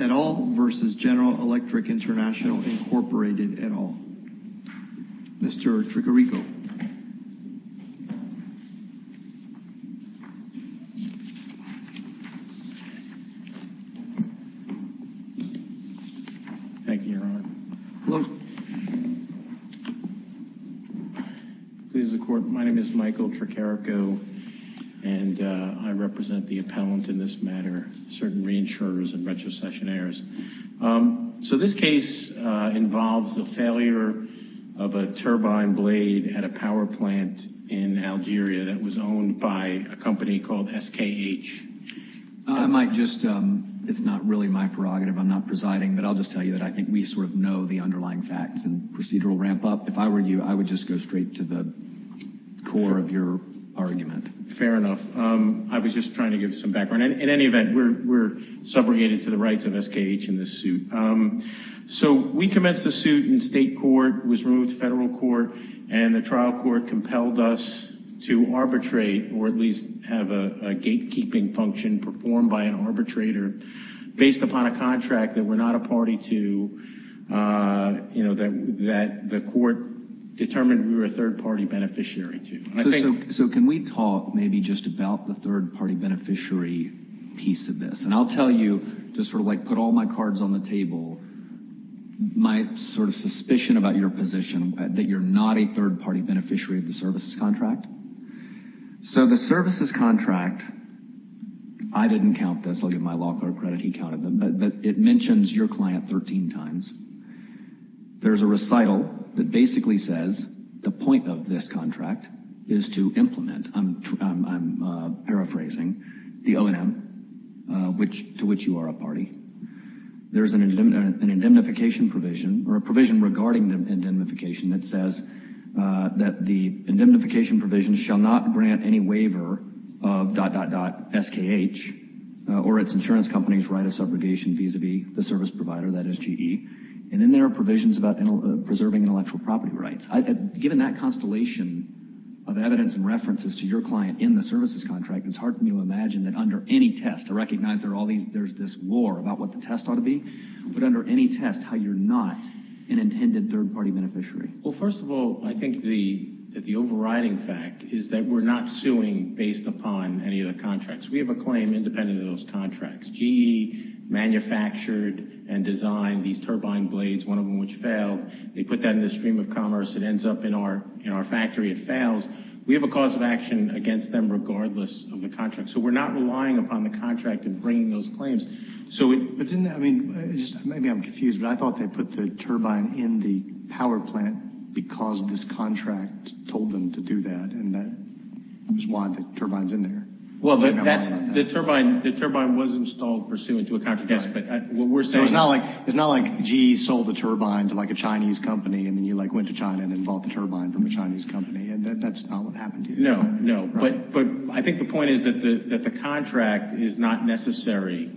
at All v. General Electric International, Inc. Mr. Trichirico. Hello. My name is Michael Trichirico, and I represent the appellant in this matter, Certain Reinsurers and Retrocessionaires. So this case involves the failure of a turbine blade at a power plant in Algeria that was owned by a company called SKH. I might just, it's not really my prerogative, I'm not presiding, but I'll just tell you that I think we sort of know the underlying facts and procedural ramp up. If I were you, I would just go straight to the core of your argument. Fair enough. I was just trying to give some background. In any event, we're subrogated to the rights of SKH in this suit. So we commenced the suit in state court, was removed to federal court, and the trial court compelled us to arbitrate, or at least have a gatekeeping function performed by an arbitrator, based upon a contract that we're not a party to, you know, that the court determined we were a third-party beneficiary to. So can we talk maybe just about the third-party beneficiary piece of this? And I'll tell you, just sort of like put all my cards on the table, my sort of suspicion about your position, that you're not a third-party beneficiary of the services contract. So the services contract, I didn't count this, I'll give my law clerk credit, he counted them, but it mentions your client 13 times. There's a recital that basically says the point of this contract is to implement, I'm paraphrasing, the O&M, to which you are a party. There's an indemnification provision, or a provision regarding indemnification that says that the indemnification provision shall not grant any waiver of dot, dot, dot, SKH, or its insurance company's right of subrogation vis-a-vis the service provider, that is GE. And then there are provisions about preserving intellectual property rights. Given that constellation of evidence and references to your client in the services contract, it's hard for me to imagine that under any test, I recognize there's this lore about what the test ought to be, but under any test, how you're not an intended third-party beneficiary. Well, first of all, I think that the overriding fact is that we're not suing based upon any of the contracts. We have a claim independent of those contracts. GE manufactured and designed these turbine blades, one of them which failed. They put that in the stream of commerce. It ends up in our factory. It fails. We have a cause of action against them regardless of the contract. So we're not relying upon the contract in bringing those claims. But didn't that, I mean, maybe I'm confused, but I thought they put the turbine in the power plant because this contract told them to do that, and that was why the turbine's in there. Well, the turbine was installed pursuant to a contract. Yes, but what we're saying is— So it's not like GE sold the turbine to, like, a Chinese company, and then you, like, went to China and then bought the turbine from the Chinese company, and that's not what happened here? No, no. But I think the point is that the contract is not necessary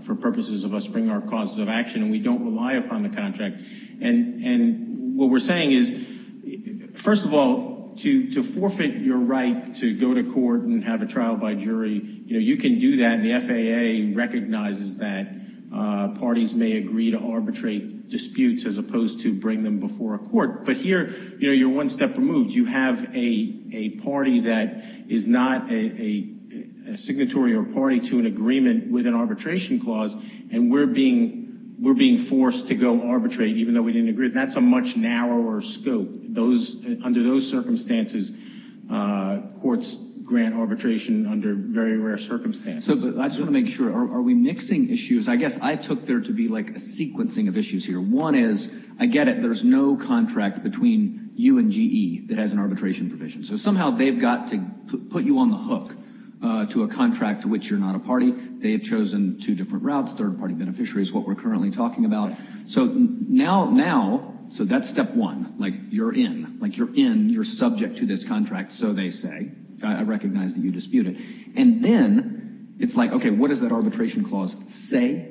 for purposes of us bringing our causes of action, and we don't rely upon the contract. And what we're saying is, first of all, to forfeit your right to go to court and have a trial by jury, you know, you can do that, and the FAA recognizes that parties may agree to arbitrate disputes as opposed to bring them before a court. But here, you know, you're one step removed. You have a party that is not a signatory or party to an agreement with an arbitration clause, and we're being forced to go arbitrate even though we didn't agree. That's a much narrower scope. Under those circumstances, courts grant arbitration under very rare circumstances. I just want to make sure. Are we mixing issues? I guess I took there to be, like, a sequencing of issues here. One is, I get it, there's no contract between you and GE that has an arbitration provision, so somehow they've got to put you on the hook to a contract to which you're not a party. They have chosen two different routes. Third-party beneficiary is what we're currently talking about. So now that's step one. Like, you're in. Like, you're in. You're subject to this contract, so they say. I recognize that you dispute it. And then it's like, okay, what does that arbitration clause say?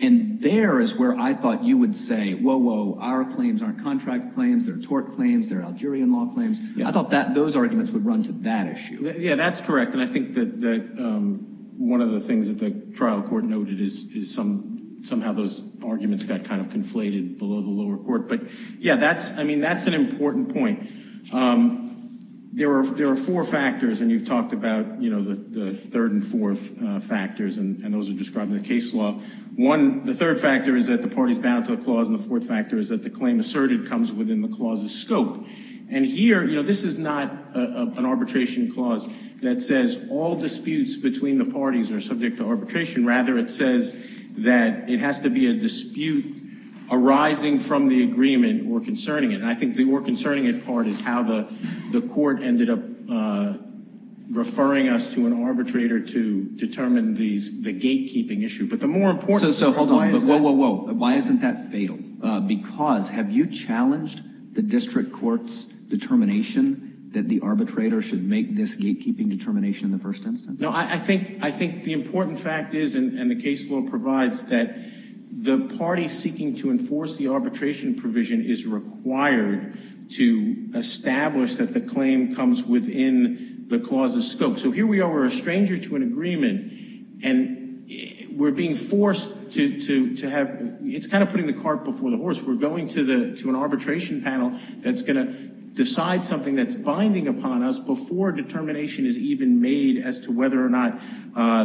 And there is where I thought you would say, whoa, whoa, our claims aren't contract claims. They're tort claims. They're Algerian law claims. I thought those arguments would run to that issue. Yeah, that's correct. And I think that one of the things that the trial court noted is somehow those arguments got kind of conflated below the lower court. But, yeah, I mean, that's an important point. There are four factors, and you've talked about, you know, the third and fourth factors, and those are described in the case law. One, the third factor is that the party is bound to a clause, and the fourth factor is that the claim asserted comes within the clause's scope. And here, you know, this is not an arbitration clause that says all disputes between the parties are subject to arbitration. Rather, it says that it has to be a dispute arising from the agreement or concerning it. And I think the or concerning it part is how the court ended up referring us to an arbitrator to determine the gatekeeping issue. So hold on. Whoa, whoa, whoa. Why isn't that fatal? Because have you challenged the district court's determination that the arbitrator should make this gatekeeping determination in the first instance? No, I think the important fact is, and the case law provides, that the party seeking to enforce the arbitration provision is required to establish that the claim comes within the clause's scope. So here we are, we're a stranger to an agreement, and we're being forced to have, it's kind of putting the cart before the horse. We're going to an arbitration panel that's going to decide something that's binding upon us before determination is even made as to whether or not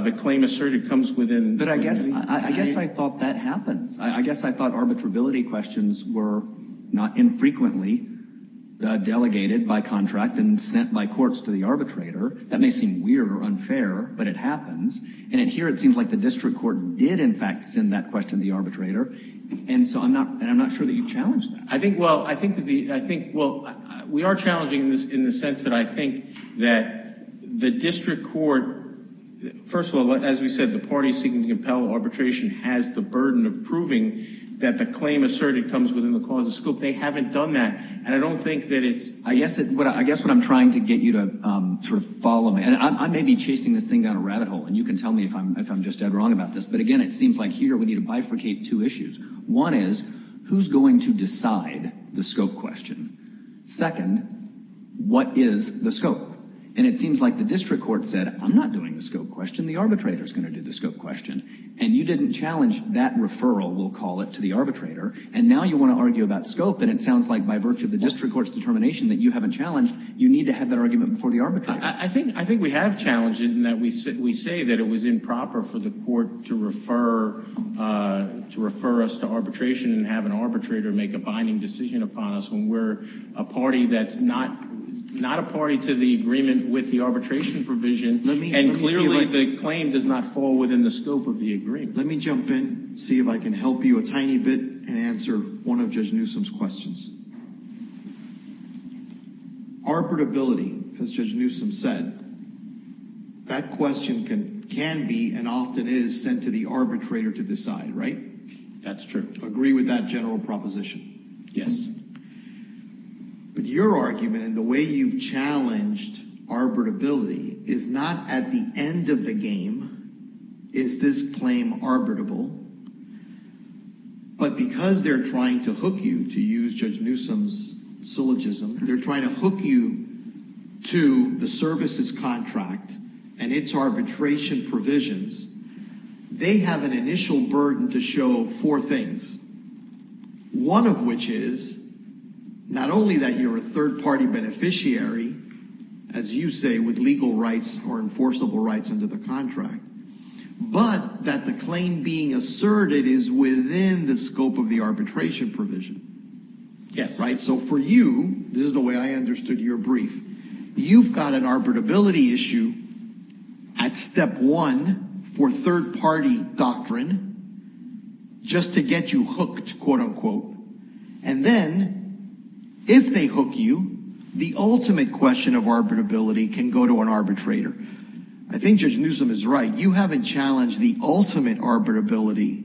the claim asserted comes within. But I guess I thought that happens. I guess I thought arbitrability questions were not infrequently delegated by contract and sent by courts to the arbitrator. That may seem weird or unfair, but it happens. And here it seems like the district court did, in fact, send that question to the arbitrator. And so I'm not sure that you challenged that. I think, well, we are challenging in the sense that I think that the district court, first of all, as we said, the party seeking to compel arbitration has the burden of proving that the claim asserted comes within the clause's scope. They haven't done that. I guess what I'm trying to get you to sort of follow, and I may be chasing this thing down a rabbit hole, and you can tell me if I'm just dead wrong about this. But, again, it seems like here we need to bifurcate two issues. One is, who's going to decide the scope question? Second, what is the scope? And it seems like the district court said, I'm not doing the scope question. The arbitrator is going to do the scope question. And you didn't challenge that referral, we'll call it, to the arbitrator. And now you want to argue about scope, and it sounds like by virtue of the district court's determination that you haven't challenged, you need to have that argument before the arbitrator. I think we have challenged it in that we say that it was improper for the court to refer us to arbitration and have an arbitrator make a binding decision upon us when we're a party that's not a party to the agreement with the arbitration provision. And clearly the claim does not fall within the scope of the agreement. Let me jump in, see if I can help you a tiny bit, and answer one of Judge Newsom's questions. Arbitrability, as Judge Newsom said, that question can be and often is sent to the arbitrator to decide, right? That's true. Agree with that general proposition? Yes. But your argument and the way you've challenged arbitrability is not at the end of the game is this claim arbitrable, but because they're trying to hook you, to use Judge Newsom's syllogism, they're trying to hook you to the services contract and its arbitration provisions, they have an initial burden to show four things, one of which is not only that you're a third-party beneficiary, as you say, with legal rights or enforceable rights under the contract, but that the claim being asserted is within the scope of the arbitration provision. Yes. So for you, this is the way I understood your brief, you've got an arbitrability issue at step one for third-party doctrine just to get you hooked, quote-unquote, and then if they hook you, the ultimate question of arbitrability can go to an arbitrator. I think Judge Newsom is right. You haven't challenged the ultimate arbitrability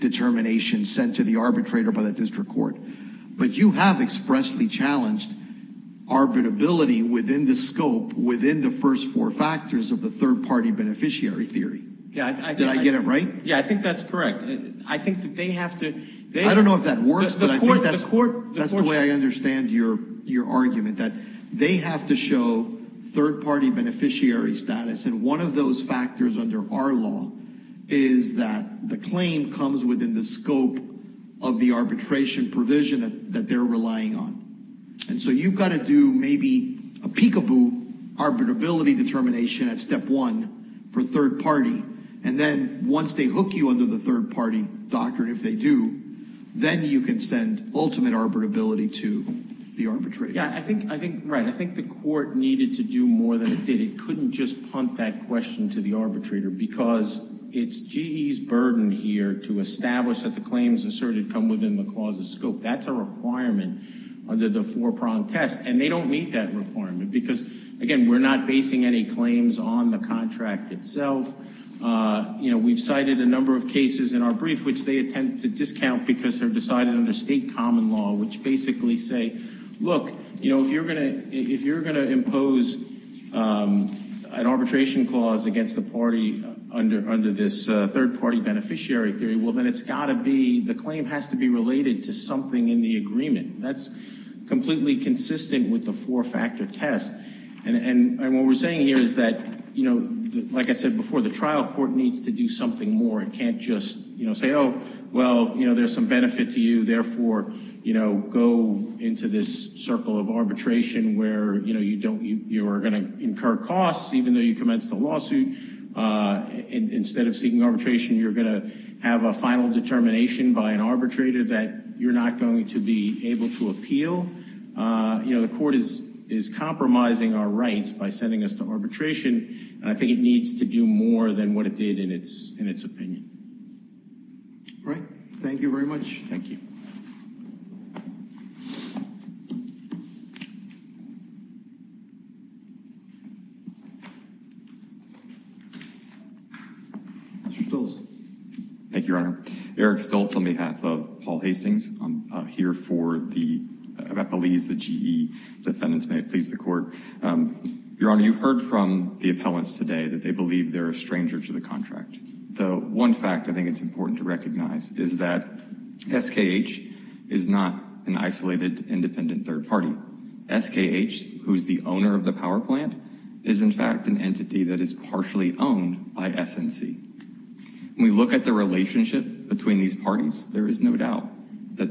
determination sent to the arbitrator by the district court, but you have expressly challenged arbitrability within the scope, within the first four factors of the third-party beneficiary theory. Did I get it right? Yeah, I think that's correct. I think that they have to – I don't know if that works, but I think that's the way I understand your argument, that they have to show third-party beneficiary status, and one of those factors under our law is that the claim comes within the scope of the arbitration provision that they're relying on. And so you've got to do maybe a peekaboo arbitrability determination at step one for third-party, and then once they hook you under the third-party doctrine, if they do, then you can send ultimate arbitrability to the arbitrator. Yeah, I think – right. I think the court needed to do more than it did. It couldn't just punt that question to the arbitrator, because it's GE's burden here to establish that the claims asserted come within the clause's scope. That's a requirement under the four-prong test, and they don't meet that requirement because, again, we're not basing any claims on the contract itself. You know, we've cited a number of cases in our brief which they attempt to discount because they're decided under state common law, which basically say, look, if you're going to impose an arbitration clause against the party under this third-party beneficiary theory, well, then it's got to be – the claim has to be related to something in the agreement. That's completely consistent with the four-factor test. And what we're saying here is that, like I said before, the trial court needs to do something more. It can't just say, oh, well, there's some benefit to you, and therefore, you know, go into this circle of arbitration where, you know, you don't – you are going to incur costs even though you commenced the lawsuit. Instead of seeking arbitration, you're going to have a final determination by an arbitrator that you're not going to be able to appeal. You know, the court is compromising our rights by sending us to arbitration, and I think it needs to do more than what it did in its opinion. All right. Thank you very much. Thank you. Mr. Stoltz. Thank you, Your Honor. Eric Stoltz on behalf of Paul Hastings. I'm here for the appellees, the GE defendants. May it please the Court. Your Honor, you heard from the appellants today that they believe they're a stranger to the contract. The one fact I think it's important to recognize is that SKH is not an isolated, independent third party. SKH, who is the owner of the power plant, is, in fact, an entity that is partially owned by SNC. When we look at the relationship between these parties, there is no doubt that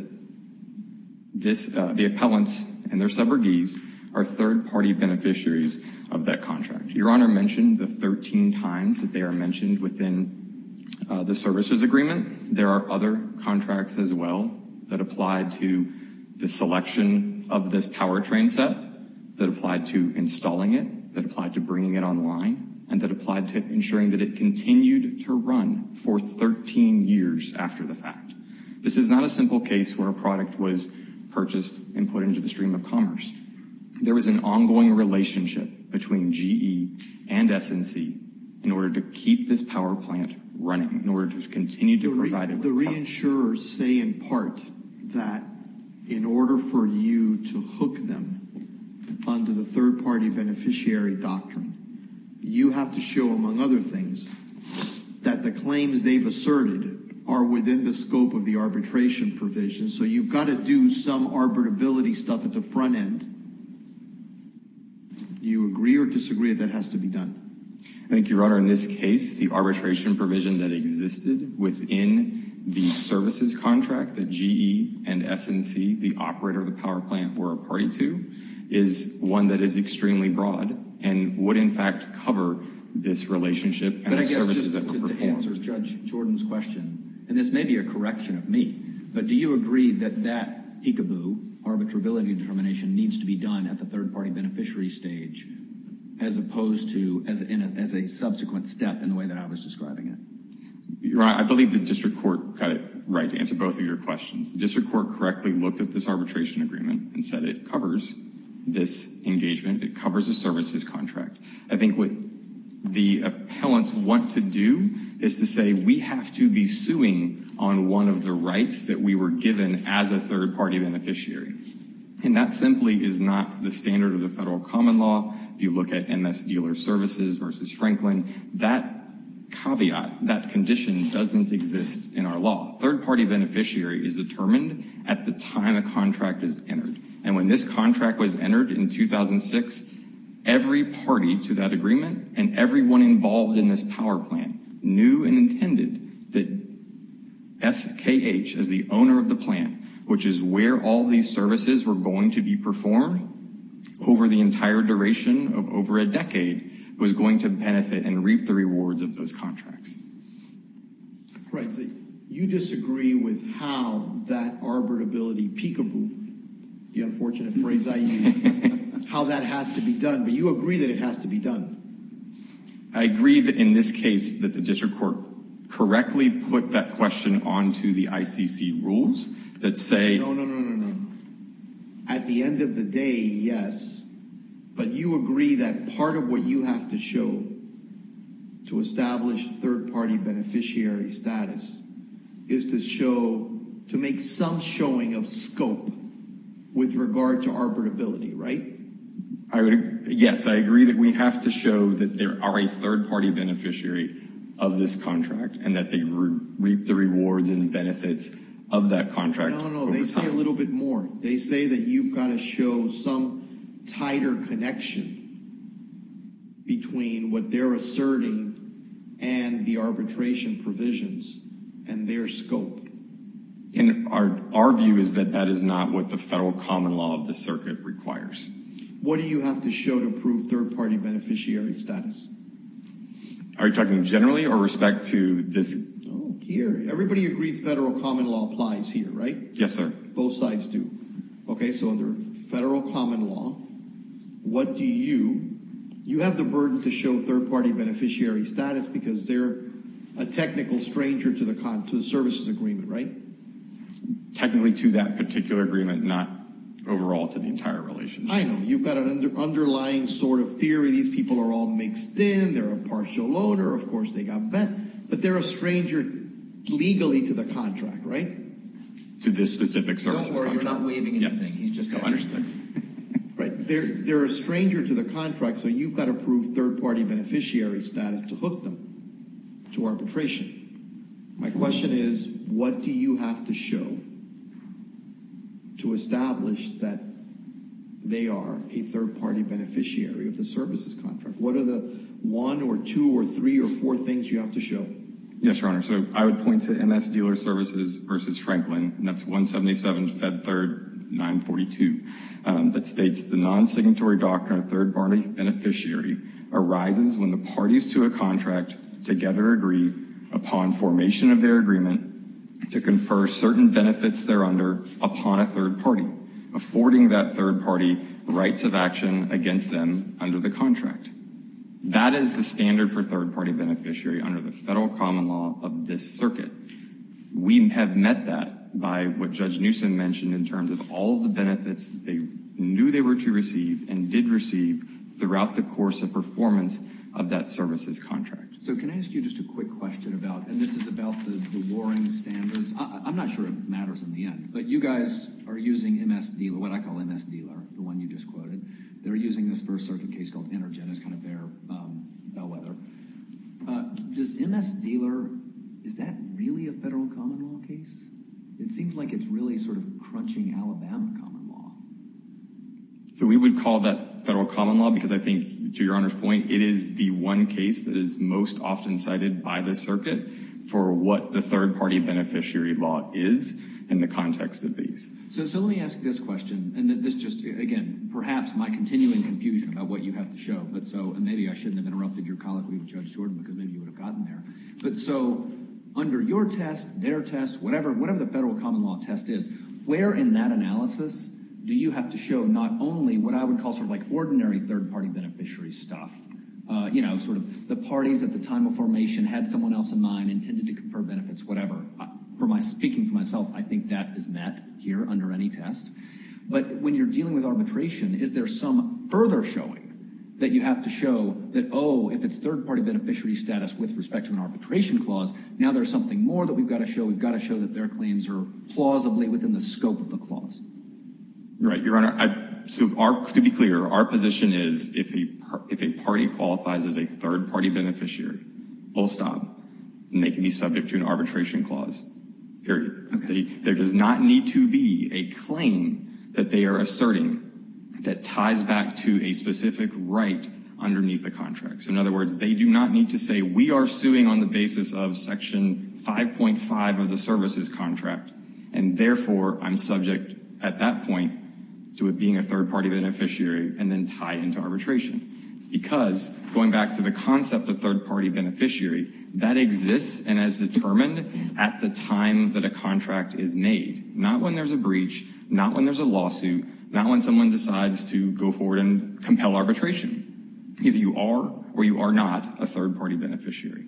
the appellants and their suborgies are third-party beneficiaries of that contract. Your Honor mentioned the 13 times that they are mentioned within the services agreement. There are other contracts as well that applied to the selection of this powertrain set, that applied to installing it, that applied to bringing it online, and that applied to ensuring that it continued to run for 13 years after the fact. This is not a simple case where a product was purchased and put into the stream of commerce. There is an ongoing relationship between GE and SNC in order to keep this power plant running, in order to continue to provide it. The reinsurers say, in part, that in order for you to hook them under the third-party beneficiary doctrine, you have to show, among other things, that the claims they've asserted are within the scope of the arbitration provision. So you've got to do some arbitrability stuff at the front end. Do you agree or disagree that has to be done? Thank you, Your Honor. In this case, the arbitration provision that existed within the services contract that GE and SNC, the operator of the power plant, were a party to, is one that is extremely broad and would, in fact, cover this relationship and the services that were performed. But I guess just to answer Judge Jordan's question, and this may be a correction of me, but do you agree that that peekaboo, arbitrability determination, needs to be done at the third-party beneficiary stage as opposed to as a subsequent step in the way that I was describing it? Your Honor, I believe the district court got it right to answer both of your questions. The district court correctly looked at this arbitration agreement and said it covers this engagement, it covers the services contract. I think what the appellants want to do is to say we have to be suing on one of the rights that we were given as a third-party beneficiary, and that simply is not the standard of the federal common law. If you look at MS Dealer Services versus Franklin, that caveat, that condition doesn't exist in our law. Third-party beneficiary is determined at the time a contract is entered, and when this contract was entered in 2006, every party to that agreement and everyone involved in this power plan knew and intended that SKH, as the owner of the plant, which is where all these services were going to be performed over the entire duration of over a decade, was going to benefit and reap the rewards of those contracts. Right, so you disagree with how that arbitrability peekaboo, the unfortunate phrase I use, how that has to be done, but you agree that it has to be done. I agree that in this case that the district court correctly put that question onto the ICC rules that say... No, no, no, no, no, no. At the end of the day, yes, but you agree that part of what you have to show to establish third-party beneficiary status is to show, to make some showing of scope with regard to arbitrability, right? Yes, I agree that we have to show that there are a third-party beneficiary of this contract and that they reap the rewards and benefits of that contract. No, no, no, they say a little bit more. They say that you've got to show some tighter connection between what they're asserting and the arbitration provisions and their scope. And our view is that that is not what the federal common law of the circuit requires. What do you have to show to prove third-party beneficiary status? Are you talking generally or respect to this... Oh, here, everybody agrees federal common law applies here, right? Yes, sir. Both sides do. Okay, so under federal common law, what do you... You have the burden to show third-party beneficiary status because they're a technical stranger to the services agreement, right? Technically to that particular agreement, not overall to the entire relationship. I know. You've got an underlying sort of theory. These people are all mixed in. They're a partial owner. Of course, they got bent, but they're a stranger legally to the contract, right? To this specific services contract. Don't worry, we're not waiving anything. He's just... Understood. They're a stranger to the contract, so you've got to prove third-party beneficiary status to hook them to arbitration. My question is, what do you have to show to establish that they are a third-party beneficiary of the services contract? What are the one or two or three or four things you have to show? Yes, Your Honor, so I would point to MS Dealer Services v. Franklin, and that's 177 Fed 3rd 942. That states, the non-signatory doctrine of third-party beneficiary arises when the parties to a contract together agree, upon formation of their agreement, to confer certain benefits thereunder upon a third party, affording that third party rights of action against them under the contract. That is the standard for third-party beneficiary under the federal common law of this circuit. We have met that by what Judge Newsom mentioned in terms of all the benefits they knew they were to receive and did receive throughout the course of performance of that services contract. So can I ask you just a quick question about, and this is about the warring standards. I'm not sure it matters in the end, but you guys are using MS Dealer, what I call MS Dealer, the one you just quoted. They're using this first circuit case called EnerGen as kind of their bellwether. Does MS Dealer, is that really a federal common law case? It seems like it's really sort of crunching Alabama common law. So we would call that federal common law because I think, to Your Honor's point, it is the one case that is most often cited by this circuit for what the third-party beneficiary law is in the context of these. So let me ask this question, and this just, again, perhaps my continuing confusion about what you have to show. And maybe I shouldn't have interrupted your colleague, Judge Jordan, because maybe you would have gotten there. So under your test, their test, whatever the federal common law test is, where in that analysis do you have to show not only what I would call sort of like ordinary third-party beneficiary stuff, you know, sort of the parties at the time of formation had someone else in mind, intended to confer benefits, whatever. Speaking for myself, I think that is met here under any test. But when you're dealing with arbitration, is there some further showing that you have to show that, oh, if it's third-party beneficiary status with respect to an arbitration clause, now there's something more that we've got to show. We've got to show that their claims are plausibly within the scope of the clause. Right. Your Honor, to be clear, our position is if a party qualifies as a third-party beneficiary, full stop, then they can be subject to an arbitration clause, period. There does not need to be a claim that they are asserting that ties back to a specific right underneath the contract. So in other words, they do not need to say, we are suing on the basis of Section 5.5 of the services contract, and therefore I'm subject at that point to it being a third-party beneficiary and then tied into arbitration. Because, going back to the concept of third-party beneficiary, that exists and is determined at the time that a contract is made. Not when there's a breach, not when there's a lawsuit, not when someone decides to go forward and compel arbitration. Either you are or you are not a third-party beneficiary.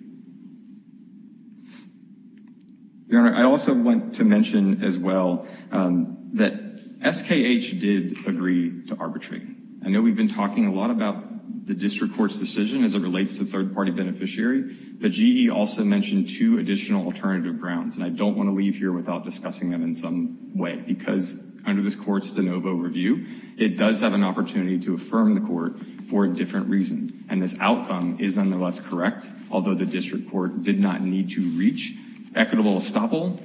Your Honor, I also want to mention as well that SKH did agree to arbitrate. I know we've been talking a lot about the District Court's decision as it relates to third-party beneficiary, but GE also mentioned two additional alternative grounds, and I don't want to leave here without discussing them in some way. Because under this Court's de novo review, it does have an opportunity to affirm the Court for a different reason. And this outcome is nonetheless correct, although the District Court did not need to reach equitable estoppel,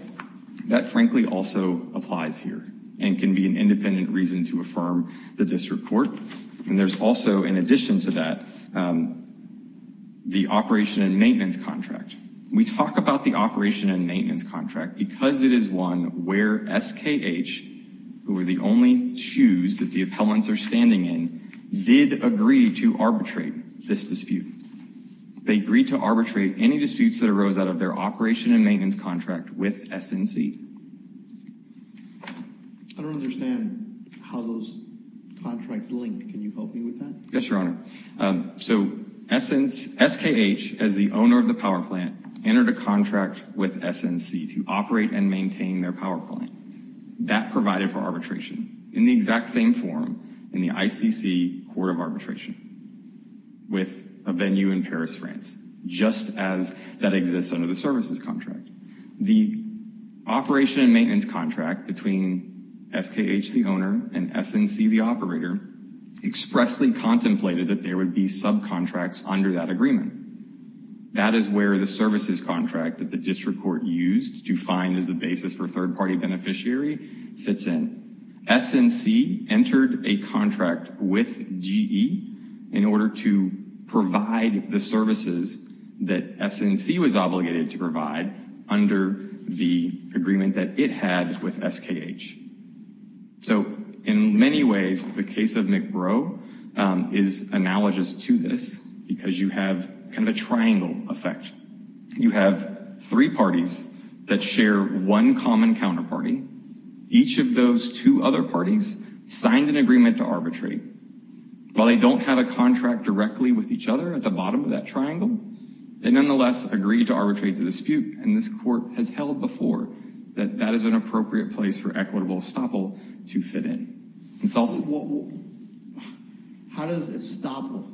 that frankly also applies here, and can be an independent reason to affirm the District Court. And there's also, in addition to that, the operation and maintenance contract. We talk about the operation and maintenance contract because it is one where SKH, who are the only shoes that the appellants are standing in, did agree to arbitrate this dispute. They agreed to arbitrate any disputes that arose out of their operation and maintenance contract with SNC. I don't understand how those contracts link. Can you help me with that? Yes, Your Honor. So SKH, as the owner of the power plant, entered a contract with SNC to operate and maintain their power plant. That provided for arbitration, in the exact same form in the ICC Court of Arbitration, with a venue in Paris, France, just as that exists under the services contract. The operation and maintenance contract between SKH, the owner, and SNC, the operator, expressly contemplated that there would be subcontracts under that agreement. That is where the services contract that the District Court used to find as the basis for third party beneficiary fits in. SNC entered a contract with GE in order to provide the services that SNC was obligated to provide under the agreement that it had with SKH. So in many ways, the case of McBrow is analogous to this, because you have kind of a triangle effect. You have three parties that share one common counterparty. Each of those two other parties signed an agreement to arbitrate. While they don't have a contract directly with each other at the bottom of that triangle, they nonetheless agreed to arbitrate the dispute and this court has held before that that is an appropriate place for equitable estoppel to fit in. It's also... How does estoppel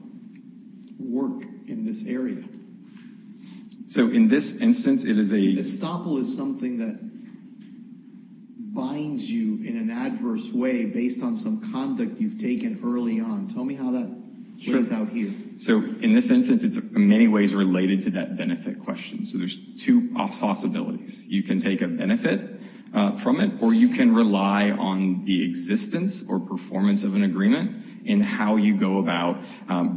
work in this area? So in this instance, it is a... Estoppel is something that binds you in an adverse way based on some conduct you've taken early on. Tell me how that plays out here. So in this instance, it's in many ways related to that benefit question. So there's two possibilities. You can take a benefit from it, or you can rely on the existence or performance of an agreement in how you go about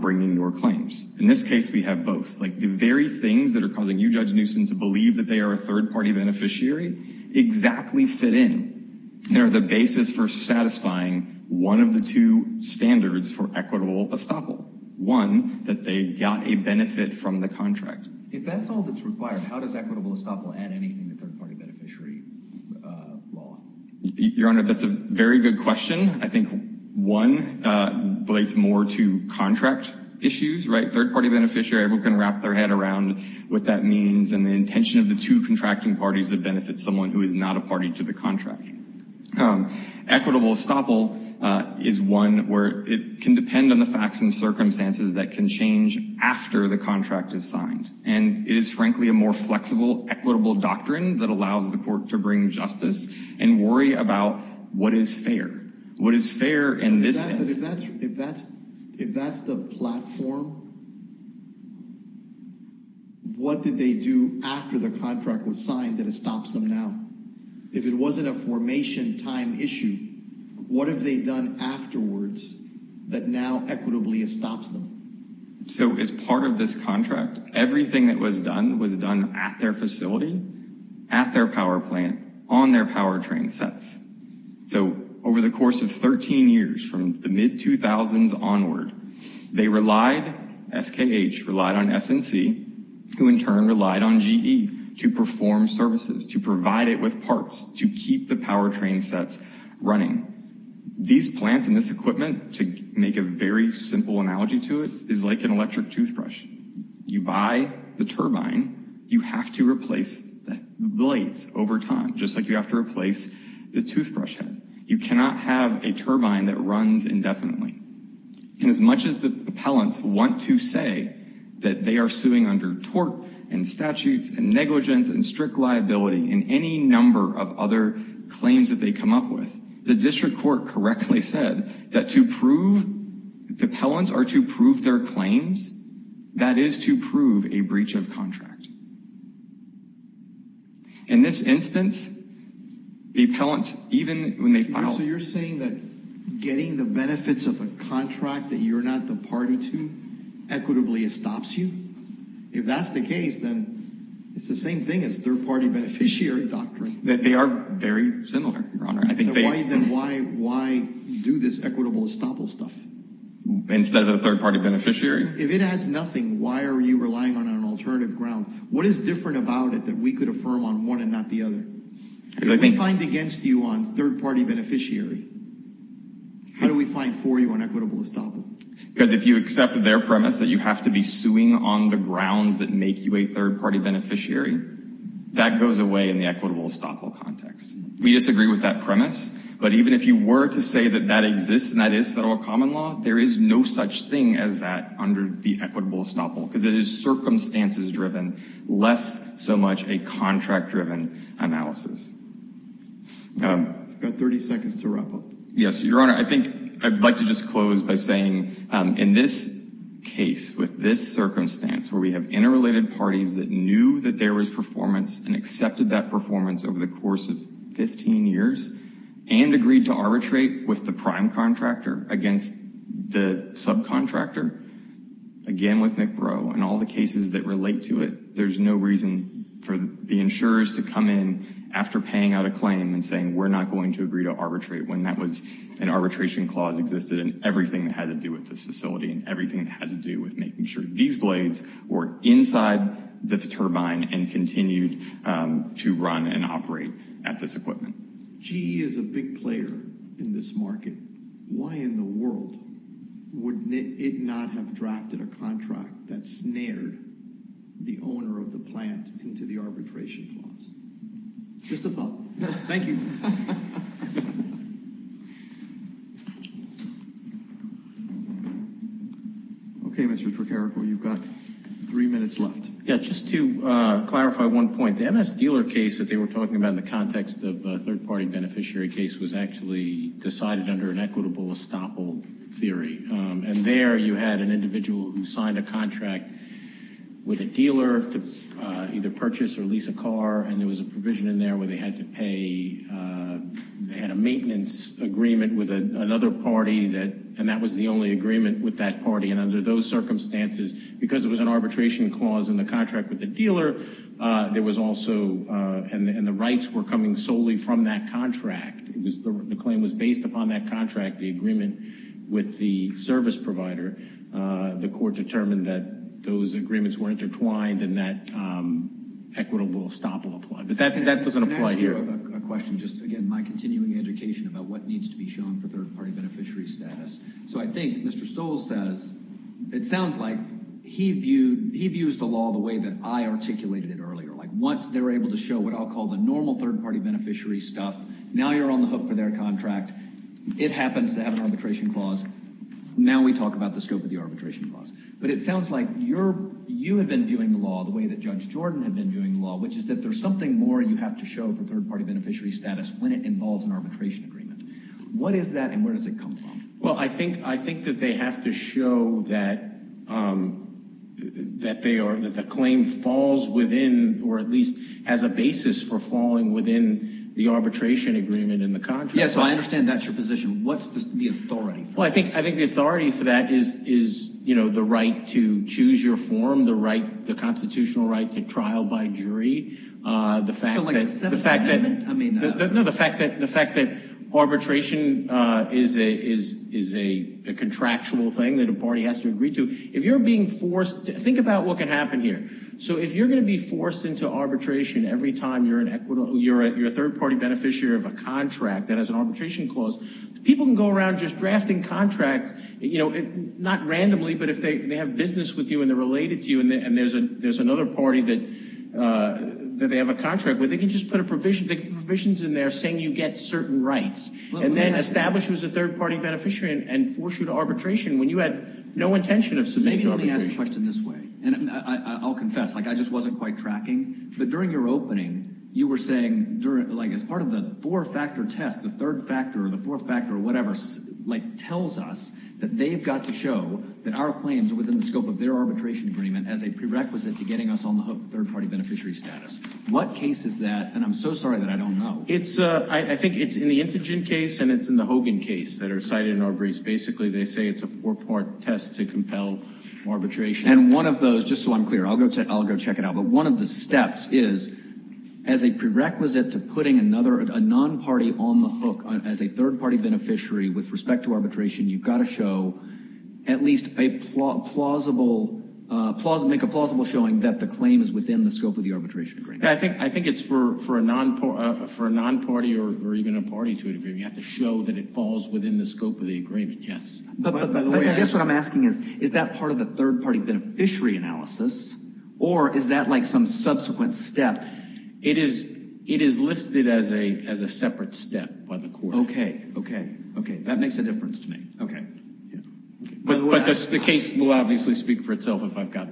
bringing your claims. In this case, we have both. Like, the very things that are causing you, Judge Newsom, to believe that they are a third-party beneficiary exactly fit in. They're the basis for satisfying one of the two standards for equitable estoppel. One, that they got a benefit from the contract. If that's all that's required, how does equitable estoppel add anything to third-party beneficiary law? Your Honor, that's a very good question. I think one relates more to contract issues, right? Third-party beneficiary, everyone can wrap their head around what that means and the intention of the two contracting parties to benefit someone who is not a party to the contract. Equitable estoppel is one where it can depend on the facts and circumstances that can change after the contract is signed. And it is, frankly, a more flexible, equitable doctrine that allows the court to bring justice and worry about what is fair. What is fair in this instance? If that's the platform, what did they do after the contract was signed that estops them now? If it wasn't a formation time issue, what have they done afterwards that now equitably estops them? So, as part of this contract, everything that was done was done at their facility, at their power plant, on their powertrain sets. So, over the course of 13 years, from the mid-2000s onward, they relied, SKH relied on SNC, who in turn relied on GE, to perform services, to provide it with parts, to keep the powertrain sets running. These plants and this equipment, to make a very simple analogy to it, is like an electric toothbrush. You buy the turbine, you have to replace the blades over time, just like you have to replace the toothbrush head. You cannot have a turbine that runs indefinitely. And as much as the appellants want to say that they are suing under tort and statutes and negligence and strict liability and any number of other claims that they come up with, the district court correctly said that the appellants are to prove their claims, that is to prove a breach of contract. In this instance, the appellants, even when they file... So, you're saying that getting the benefits of a contract that you're not the party to equitably estops you? If that's the case, then it's the same thing as third-party beneficiary doctrine. They are very similar, Your Honor. Then why do this equitable estoppel stuff? Instead of a third-party beneficiary? If it adds nothing, why are you relying on an alternative ground? What is different about it that we could affirm on one and not the other? If we find against you on third-party beneficiary, how do we find for you on equitable estoppel? Because if you accept their premise that you have to be suing on the grounds that make you a third-party beneficiary, that goes away in the equitable estoppel context. We disagree with that premise, but even if you were to say that that exists and that is federal common law, there is no such thing as that under the equitable estoppel because it is circumstances-driven, less so much a contract-driven analysis. I've got 30 seconds to wrap up. Yes, Your Honor. I think I'd like to just close by saying in this case, with this circumstance where we have interrelated parties that knew that there was performance and accepted that performance over the course of 15 years and agreed to arbitrate with the prime contractor against the subcontractor, again with McBrow and all the cases that relate to it, there's no reason for the insurers to come in after paying out a claim and saying we're not going to agree to arbitrate when that was an arbitration clause existed and everything that had to do with this facility and everything that had to do with making sure that these blades were inside the turbine and continued to run and operate at this equipment. GE is a big player in this market. Why in the world would it not have drafted a contract that snared the owner of the plant into the arbitration clause? Just a thought. Thank you. Okay, Mr. Trocarico, you've got three minutes left. Yeah, just to clarify one point. The MS dealer case that they were talking about in the context of a third-party beneficiary case was actually decided under an equitable estoppel theory, and there you had an individual who signed a contract with a dealer to either purchase or lease a car, and there was a provision in there where they had to pay out a claim and a maintenance agreement with another party, and that was the only agreement with that party, and under those circumstances, because it was an arbitration clause in the contract with the dealer, there was also, and the rights were coming solely from that contract. The claim was based upon that contract, the agreement with the service provider. The court determined that those agreements were intertwined and that equitable estoppel applied, but that doesn't apply here. I have a question, just, again, my continuing education about what needs to be shown for third-party beneficiary status. So I think Mr. Stoll says, it sounds like he views the law the way that I articulated it earlier, like once they're able to show what I'll call the normal third-party beneficiary stuff, now you're on the hook for their contract. It happens to have an arbitration clause. Now we talk about the scope of the arbitration clause, but it sounds like you have been viewing the law the way that Judge Jordan had been viewing the law, which is that there's something more you have to show for third-party beneficiary status when it involves an arbitration agreement. What is that and where does it come from? Well, I think that they have to show that the claim falls within, or at least has a basis for falling within the arbitration agreement and the contract. Yeah, so I understand that's your position. What's the authority for that? Well, I think the authority for that is the right to choose your form, the constitutional right to trial by jury, the fact that arbitration is a contractual thing that a party has to agree to. If you're being forced, think about what can happen here. So if you're going to be forced into arbitration every time you're a third-party beneficiary of a contract that has an arbitration clause, people can go around just drafting contracts, not randomly, but if they have business with you and they're related to you and there's another party that they have a contract with, they can just put provisions in there saying you get certain rights and then establish you as a third-party beneficiary and force you to arbitration when you had no intention of submitting to arbitration. Maybe let me ask the question this way, and I'll confess, I just wasn't quite tracking, but during your opening, you were saying, as part of the four-factor test, the third factor or the fourth factor or whatever tells us that they've got to show that our claims are within the scope of their arbitration agreement as a prerequisite to getting us on the hook of third-party beneficiary status. What case is that? And I'm so sorry that I don't know. I think it's in the Intigen case and it's in the Hogan case that are cited in our briefs. Basically, they say it's a four-part test to compel arbitration. And one of those, just so I'm clear, I'll go check it out, but one of the steps is as a prerequisite to putting a non-party on the hook as a third-party beneficiary with respect to arbitration, you've got to show at least a plausible, make a plausible showing that the claim is within the scope of the arbitration agreement. I think it's for a non-party or even a party to agree. You have to show that it falls within the scope of the agreement, yes. But I guess what I'm asking is, is that part of the third-party beneficiary analysis or is that like some subsequent step? It is listed as a separate step by the court. Okay, okay, okay. That makes a difference to me. But the case will obviously speak for itself if I've got...